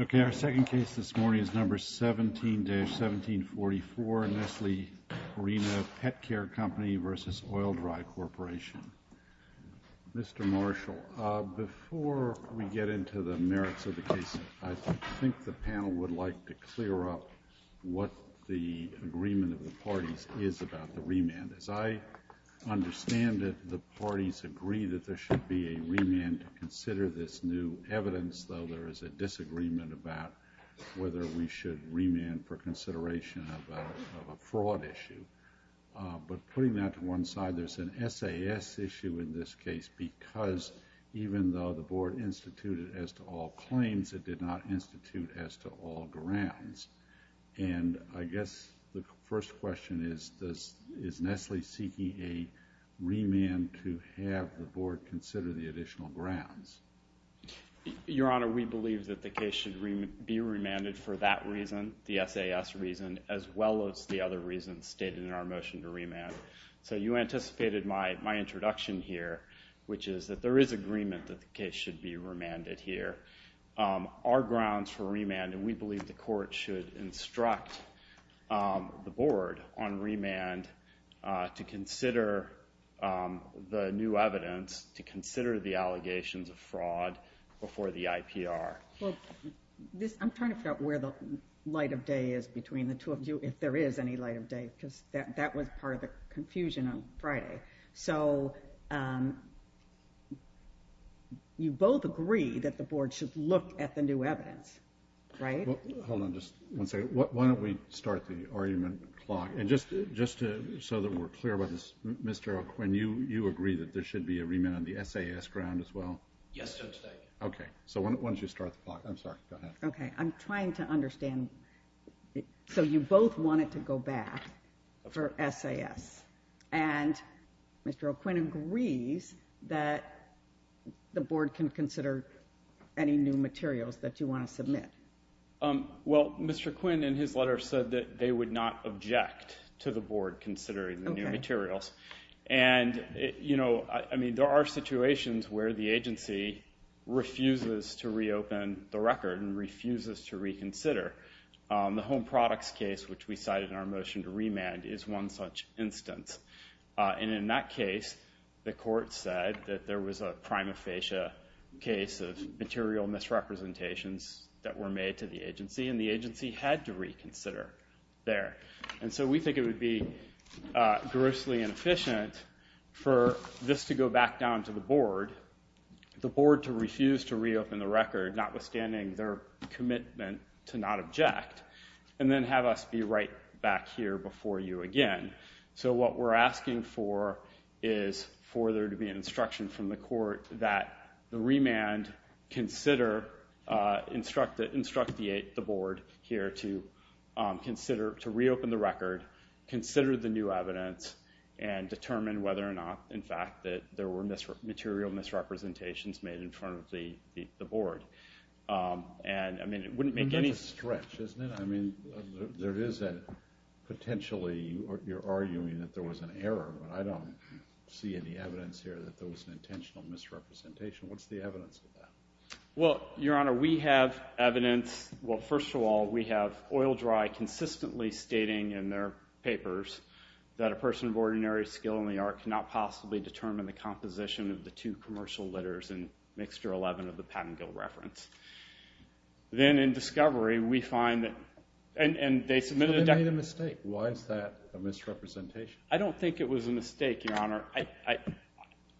Okay our second case this morning is number 17-1744 Nestle Arena Pet Care Company versus Oil Dry Corporation. Mr. Marshal before we get into the merits of the case I think the panel would like to clear up what the agreement of the parties is about the remand. As I understand it the parties agree that there should be a remand to consider this new evidence though there is a disagreement about whether we should remand for consideration of a fraud issue. But putting that to one side there's an SAS issue in this case because even though the board instituted as to all claims it did not institute as to all grounds and I guess the first question is this is Nestle seeking a remand to have the board consider the additional grounds. Your Honor we believe that the case should be remanded for that reason the SAS reason as well as the other reasons stated in our motion to remand. So you anticipated my introduction here which is that there is agreement that the case should be remanded here. Our grounds for remand and we believe the court should instruct the board on remand to consider the new evidence to consider the allegations of fraud before the IPR. I'm trying to figure out where the light of day is between the two of you if there is any light of day because that was part of the confusion on Friday. So you both agree that the board should look at the new evidence, right? Hold on just one second. Why don't we start the argument clock and just so that we're clear Mr. O'Quinn, you agree that there should be a remand on the SAS ground as well? Yes, Judge. Okay, so why don't you start the clock. I'm sorry, go ahead. Okay, I'm trying to understand. So you both want it to go back for SAS and Mr. O'Quinn agrees that the board can consider any new materials that you want to submit. Well, Mr. Quinn in his letter said that they would not object to the board considering the new materials and you know I mean there are situations where the agency refuses to reopen the record and refuses to reconsider. The home products case which we cited in our motion to remand is one such instance and in that case the court said that there was a prima facie case of material misrepresentations that were made to the agency and the agency had to reconsider there. And so we think it would be grossly inefficient for this to go back down to the board, the board to refuse to reopen the record notwithstanding their commitment to not object and then have us be right back here before you again. So what we're asking for is for there to be an instruction from the court that the board here to consider to reopen the record, consider the new evidence and determine whether or not in fact that there were material misrepresentations made in front of the board. And I mean it wouldn't make any... That's a stretch, isn't it? I mean there is a potentially you're arguing that there was an error but I don't see any evidence here that there was an intentional misrepresentation. What's the evidence of that? Well, Your Honor, we have evidence. Well, first of all, we have OilDry consistently stating in their papers that a person of ordinary skill in the art cannot possibly determine the composition of the two commercial litters in mixture 11 of the Pattengill reference. Then in discovery we find that and they submitted... They made a mistake. Why is that a misrepresentation? I don't think it was a mistake, Your Honor.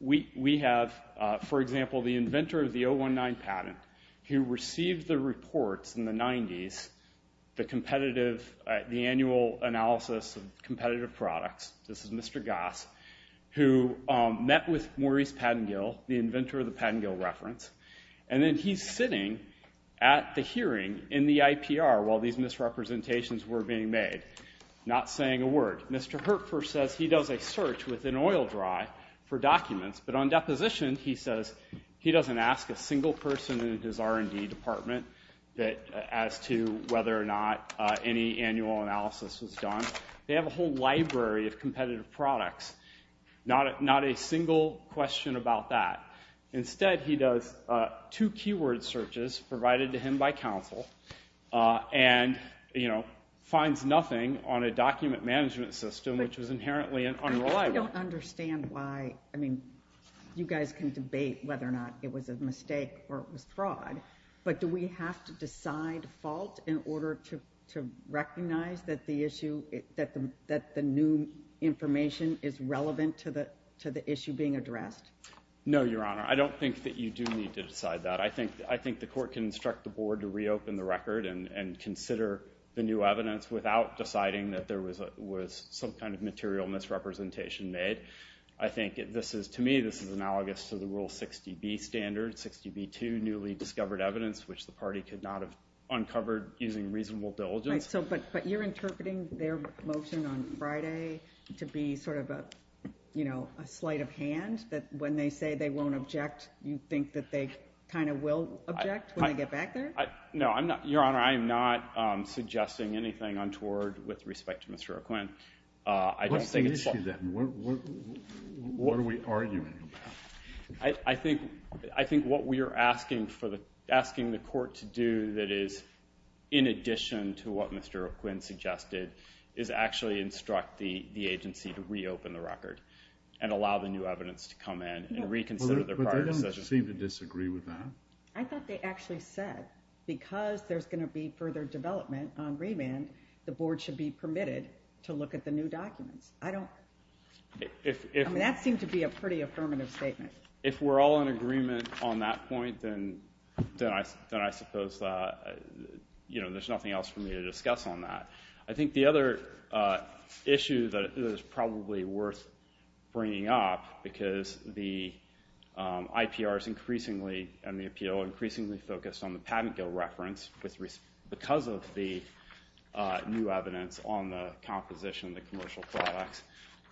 We have, for example, the inventor of the 119 patent who received the reports in the 90s, the annual analysis of competitive products. This is Mr. Goss who met with Maurice Pattengill, the inventor of the Pattengill reference, and then he's sitting at the hearing in the IPR while these misrepresentations were being made, not saying a word. Mr. Hertford says he does a search within OilDry for documents but on deposition he says he hasn't found a single person in his R&D department as to whether or not any annual analysis was done. They have a whole library of competitive products, not a single question about that. Instead, he does two keyword searches provided to him by counsel and, you know, finds nothing on a document management system which was inherently unreliable. I don't understand why, I mean, you guys can say it was a mistake or it was fraud, but do we have to decide fault in order to recognize that the issue, that the new information is relevant to the issue being addressed? No, Your Honor. I don't think that you do need to decide that. I think the court can instruct the board to reopen the record and consider the new evidence without deciding that there was some kind of material misrepresentation made. I think this is, to me, this is analogous to Rule 60B standard, 60B2, newly discovered evidence which the party could not have uncovered using reasonable diligence. But you're interpreting their motion on Friday to be sort of a, you know, a sleight of hand that when they say they won't object you think that they kind of will object when they get back there? No, Your Honor, I'm not suggesting anything untoward with respect to Mr. O'Quinn. What do we argue? I think what we are asking for, asking the court to do that is in addition to what Mr. O'Quinn suggested, is actually instruct the agency to reopen the record and allow the new evidence to come in and reconsider their prior decision. But they don't seem to disagree with that. I thought they actually said because there's going to be further development on remand, the board should be permitted to look at the new documents. I don't, if that seemed to be a pretty affirmative statement. If we're all in agreement on that point, then I suppose, you know, there's nothing else for me to discuss on that. I think the other issue that is probably worth bringing up, because the IPR is increasingly, and the appeal, increasingly focused on the new evidence on the composition of the commercial products.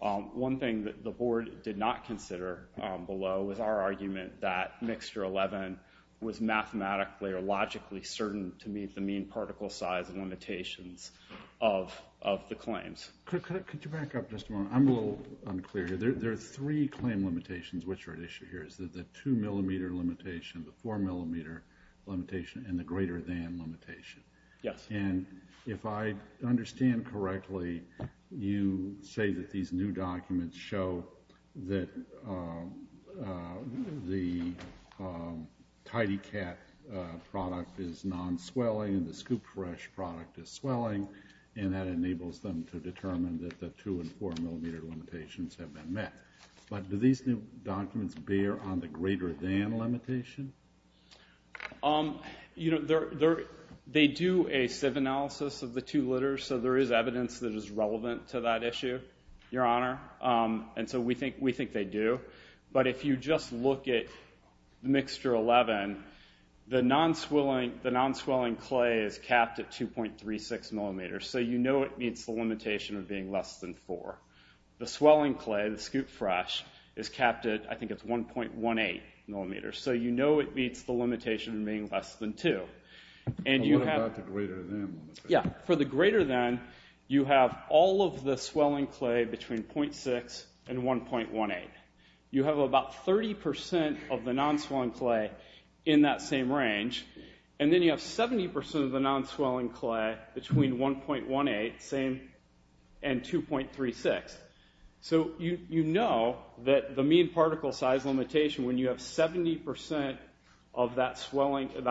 One thing that the board did not consider below was our argument that mixture 11 was mathematically or logically certain to meet the mean particle size and limitations of the claims. Could you back up just a moment? I'm a little unclear here. There are three claim limitations which are at issue here. Is that the two millimeter limitation, the four millimeter limitation, and the greater than limitation? Yes. And if I understand correctly, you say that these new documents show that the TidyCat product is non-swelling and the ScoopFresh product is swelling, and that enables them to determine that the two and four millimeter limitations have been met. But do these new documents bear on the issue? They do a sieve analysis of the two litters, so there is evidence that is relevant to that issue, your honor, and so we think they do. But if you just look at the mixture 11, the non-swelling clay is capped at 2.36 millimeters, so you know it meets the limitation of being less than four. The swelling clay, the ScoopFresh, is capped at, I think it's 1.18 millimeters, so you know it meets the limitation of being less than two. And what about the greater than limitation? For the greater than, you have all of the swelling clay between 0.6 and 1.18. You have about 30% of the non-swelling clay in that same range, and then you have 70% of the non-swelling clay between 1.18 and 2.36. So you know that the mean particle size limitation, when you have 70% of that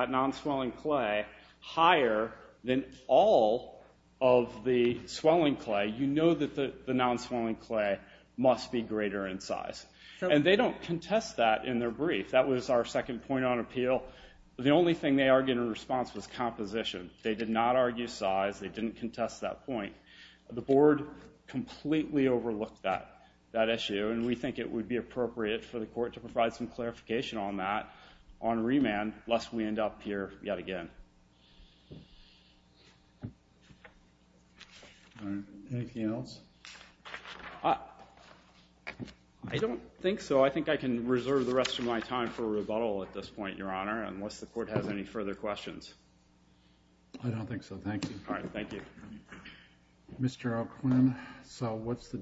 non-swelling clay higher than all of the swelling clay, you know that the non-swelling clay must be greater in size. And they don't contest that in their brief. That was our second point on appeal. The only thing they argued in response was composition. They did not argue size. They didn't contest that point. The board completely overlooked that issue, and we think it would be appropriate for the court to provide some clarification on that, on remand, lest we end up here yet again. Anything else? I don't think so. I think I can reserve the rest of my time for rebuttal at this point, Your Honor, unless the court has any further questions. I don't think so, thank you. All right, thank you. Mr. O'Quinn, so what's the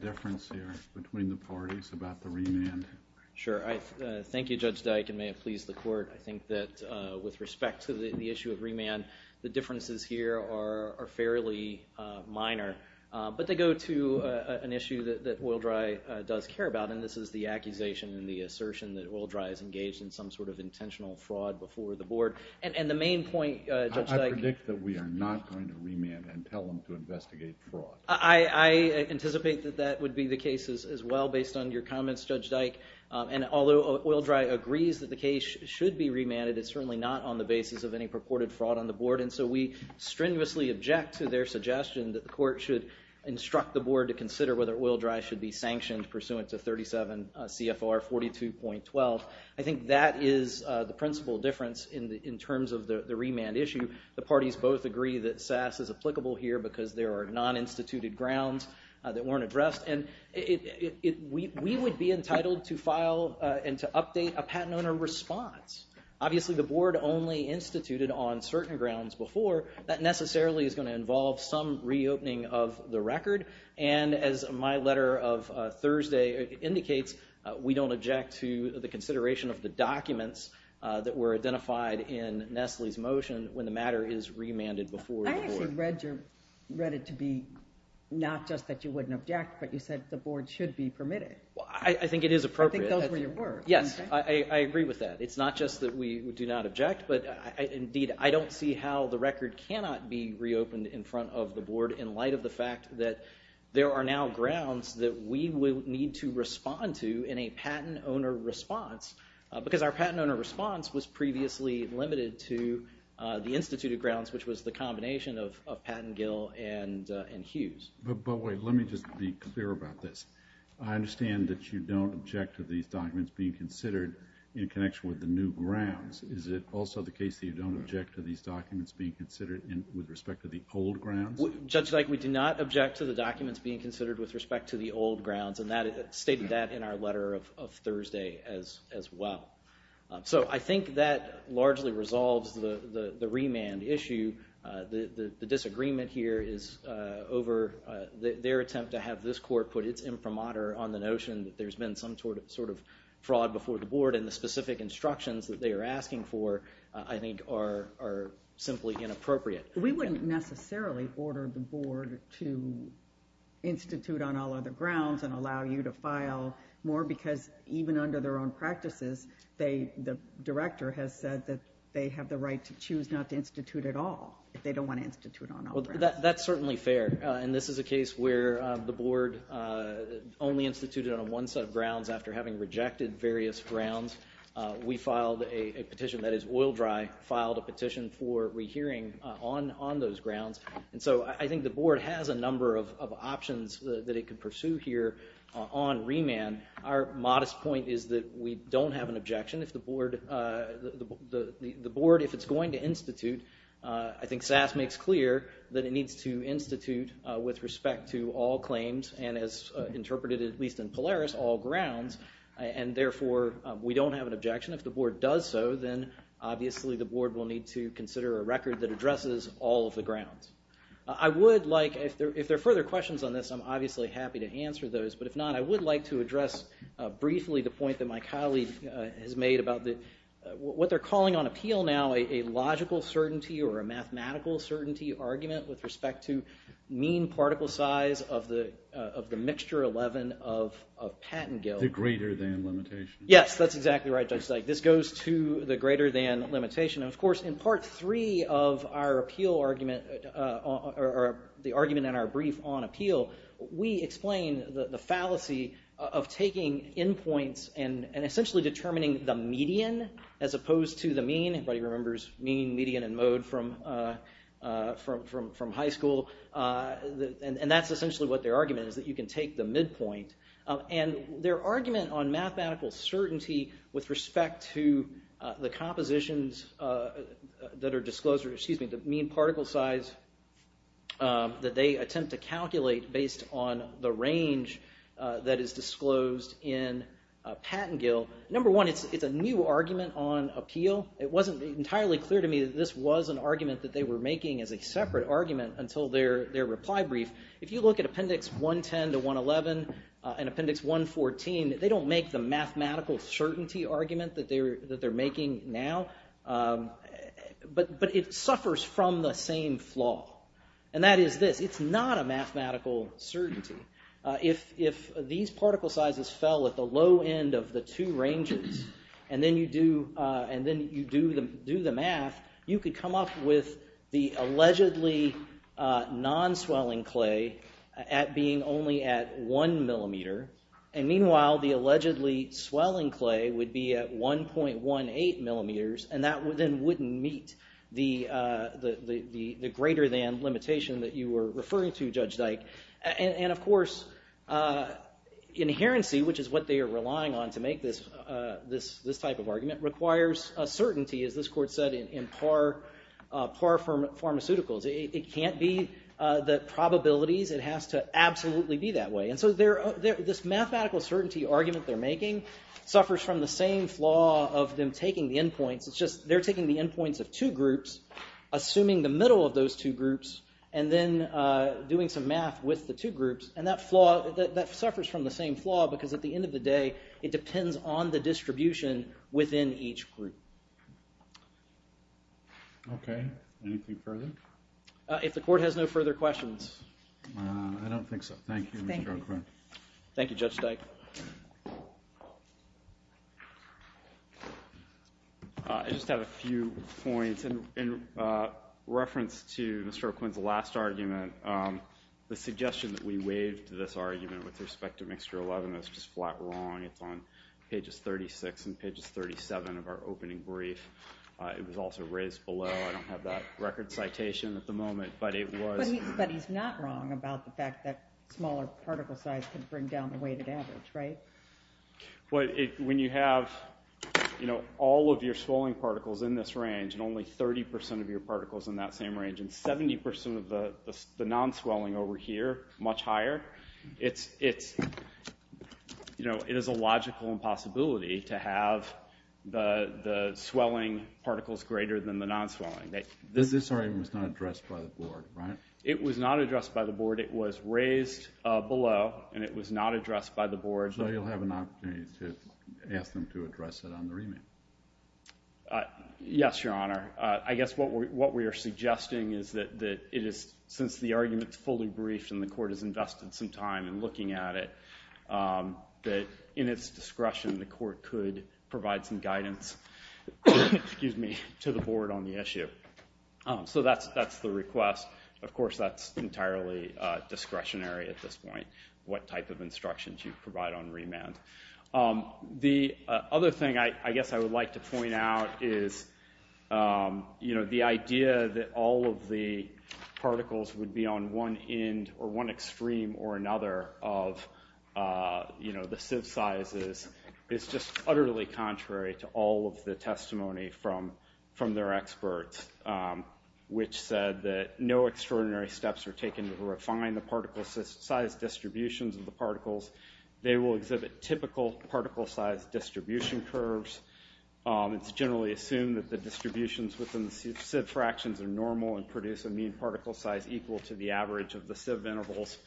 Thank you, Judge Dyke, and may it please the court. I think that with respect to the issue of remand, the differences here are fairly minor. But they go to an issue that OilDry does care about, and this is the accusation and the assertion that OilDry is engaged in some sort of intentional fraud before the board. And the main point, Judge Dyke... I predict that we are not going to remand and tell them to investigate fraud. I anticipate that that would be the case as well, based on your I think that if OilDry agrees that the case should be remanded, it's certainly not on the basis of any purported fraud on the board. And so we strenuously object to their suggestion that the court should instruct the board to consider whether OilDry should be sanctioned pursuant to 37 CFR 42.12. I think that is the principal difference in terms of the remand issue. The parties both agree that SAS is applicable here because there are non-instituted grounds that weren't a patent owner response. Obviously the board only instituted on certain grounds before. That necessarily is going to involve some reopening of the record. And as my letter of Thursday indicates, we don't object to the consideration of the documents that were identified in Nestle's motion when the matter is remanded before the board. I actually read it to be not just that you wouldn't object, but you said that the board should be permitted. I think it is appropriate. I think those were your words. Yes, I agree with that. It's not just that we do not object, but indeed I don't see how the record cannot be reopened in front of the board in light of the fact that there are now grounds that we will need to respond to in a patent owner response, because our patent owner response was previously limited to the instituted grounds, which was the combination of Patten, Gill and Hughes. But wait, let me just be clear about this. I understand that you don't object to these documents being considered in connection with the new grounds. Is it also the case that you don't object to these documents being considered with respect to the old grounds? Judge Dyke, we do not object to the documents being considered with respect to the old grounds, and that stated that in our letter of Thursday as well. So I think that largely resolves the remand issue. The disagreement here is over their attempt to have this court put its imprimatur on the notion that there's been some sort of fraud before the board, and the specific instructions that they are asking for, I think, are simply inappropriate. We wouldn't necessarily order the board to institute on all other grounds and allow you to file more because even under their own practices, the director has said that they have the right to choose not to institute at all if they don't want to institute on all grounds. Well, that's certainly fair, and this is a case where the board only instituted on one set of grounds after having rejected various grounds. We filed a petition, that is oil dry filed a petition for rehearing on those grounds, and so I think the board has a number of options that it could pursue here on remand. Our modest point is that we don't have an objection if the board the board, if it's going to institute, I think SAS makes clear that it needs to institute with respect to all claims, and as interpreted at least in Polaris, all grounds, and therefore we don't have an objection. If the board does so, then obviously the board will need to consider a record that addresses all of the grounds. I would like, if there are further questions on this, I'm obviously happy to answer those, but if not, I would like to address briefly the point that my colleague has made about what they're calling on appeal now, a logical certainty or a mathematical certainty argument with respect to mean particle size of the mixture 11 of Pattengill. The greater than limitation. Yes, that's exactly right, Judge Steig. This goes to the greater than limitation. Of course, in part three of our appeal argument, or the argument in our brief on appeal, we explain the fallacy of taking endpoints and essentially determining the median as opposed to the mean. Everybody remembers mean, median, and mode from high school, and that's essentially what their argument is, that you can take the midpoint, and their argument on mathematical certainty with respect to the compositions that are disclosed, or to calculate based on the range that is disclosed in Pattengill. Number one, it's a new argument on appeal. It wasn't entirely clear to me that this was an argument that they were making as a separate argument until their reply brief. If you look at Appendix 110 to 111 and Appendix 114, they don't make the mathematical certainty argument that they're making now, but it suffers from the same flaw, and that is this. It's not a mathematical certainty. If these particle sizes fell at the low end of the two ranges, and then you do the math, you could come up with the allegedly non-swelling clay at being only at one millimeter, and meanwhile the allegedly swelling clay would be at 1.18 millimeters, and that then wouldn't meet the greater than limitation that you were referring to Judge Dyke. And of course, inherency, which is what they are relying on to make this type of argument, requires a certainty, as this court said, in par pharmaceuticals. It can't be the probabilities. It has to absolutely be that way, and so this mathematical certainty argument they're making suffers from the same flaw of them taking the endpoints. It's they're taking the endpoints of two groups, assuming the middle of those two groups, and then doing some math with the two groups, and that suffers from the same flaw, because at the end of the day, it depends on the distribution within each group. Okay, anything further? If the court has no few points, in reference to Mr. O'Quinn's last argument, the suggestion that we waived this argument with respect to mixture 11 is just flat wrong. It's on pages 36 and pages 37 of our opening brief. It was also raised below. I don't have that record citation at the moment, but it was. But he's not wrong about the fact that smaller particle size can bring down the weighted average, right? When you have all of your swelling particles in this range, and only 30% of your particles in that same range, and 70% of the non-swelling over here, much higher, it is a logical impossibility to have the swelling particles greater than the non-swelling. This argument was not addressed by the board, right? It was not addressed by the board. It was raised below, and it was not addressed by the board. So you'll have an opportunity to ask them to address it on the remand? Yes, Your Honor. I guess what we are suggesting is that since the argument is fully briefed, and the court has invested some time in looking at it, that in its discretion, the court could provide some guidance to the board on the issue. So that's the request. Of course, that's entirely discretionary at this point, what type of instructions you provide on remand. The other thing I guess I would like to point out is, you know, the idea that all of the particles would be on one end or one extreme or another of, you know, the sieve sizes is just utterly contrary to all of the extraordinary steps are taken to refine the particle size distributions of the particles. They will exhibit typical particle size distribution curves. It's generally assumed that the distributions within the sieve fractions are normal and produce a mean particle size equal to the average of the sieve intervals.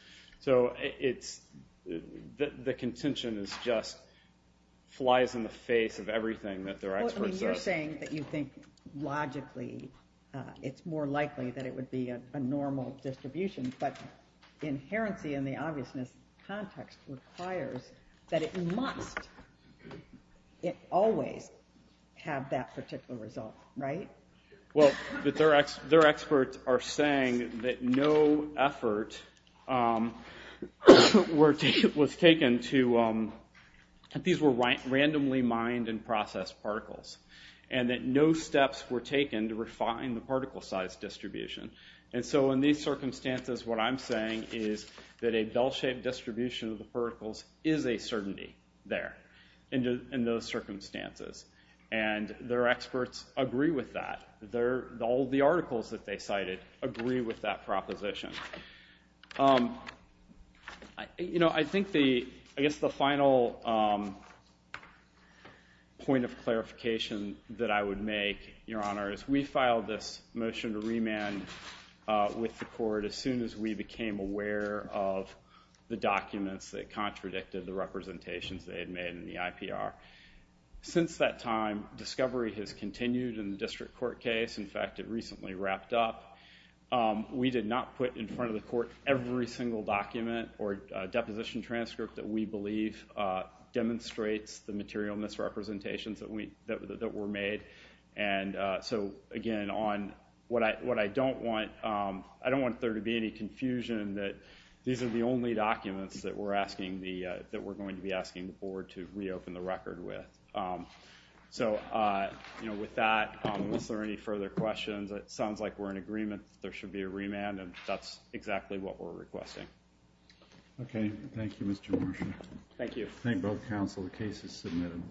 So it's, the contention is just flies in the face of everything that their expert says. You're saying that you think, logically, it's more likely that it would be a normal distribution, but inherency in the obviousness context requires that it must, it always have that particular result, right? Well, their experts are saying that no effort was taken to, that these were randomly mined and that no steps were taken to refine the particle size distribution. And so in these circumstances, what I'm saying is that a bell-shaped distribution of the particles is a certainty there, in those circumstances. And their experts agree with that. All the articles that they cited agree with that proposition. You know, I think the, I guess the final point of clarification that I would make, Your Honor, is we filed this motion to remand with the court as soon as we became aware of the documents that contradicted the representations they had made in the IPR. Since that time, discovery has continued in the district court case. In fact, it recently wrapped up. We did not put in front of the court every single document or deposition transcript that we believe demonstrates the material misrepresentations that we, that were made. And so again, on what I, what I don't want, I don't want there to be any confusion that these are the only documents that we're asking the, that we're going to be asking the board to further questions. It sounds like we're in agreement that there should be a remand, and that's exactly what we're requesting. Okay, thank you, Mr. Marshall. Thank you. Thank both counsel. The case is submitted.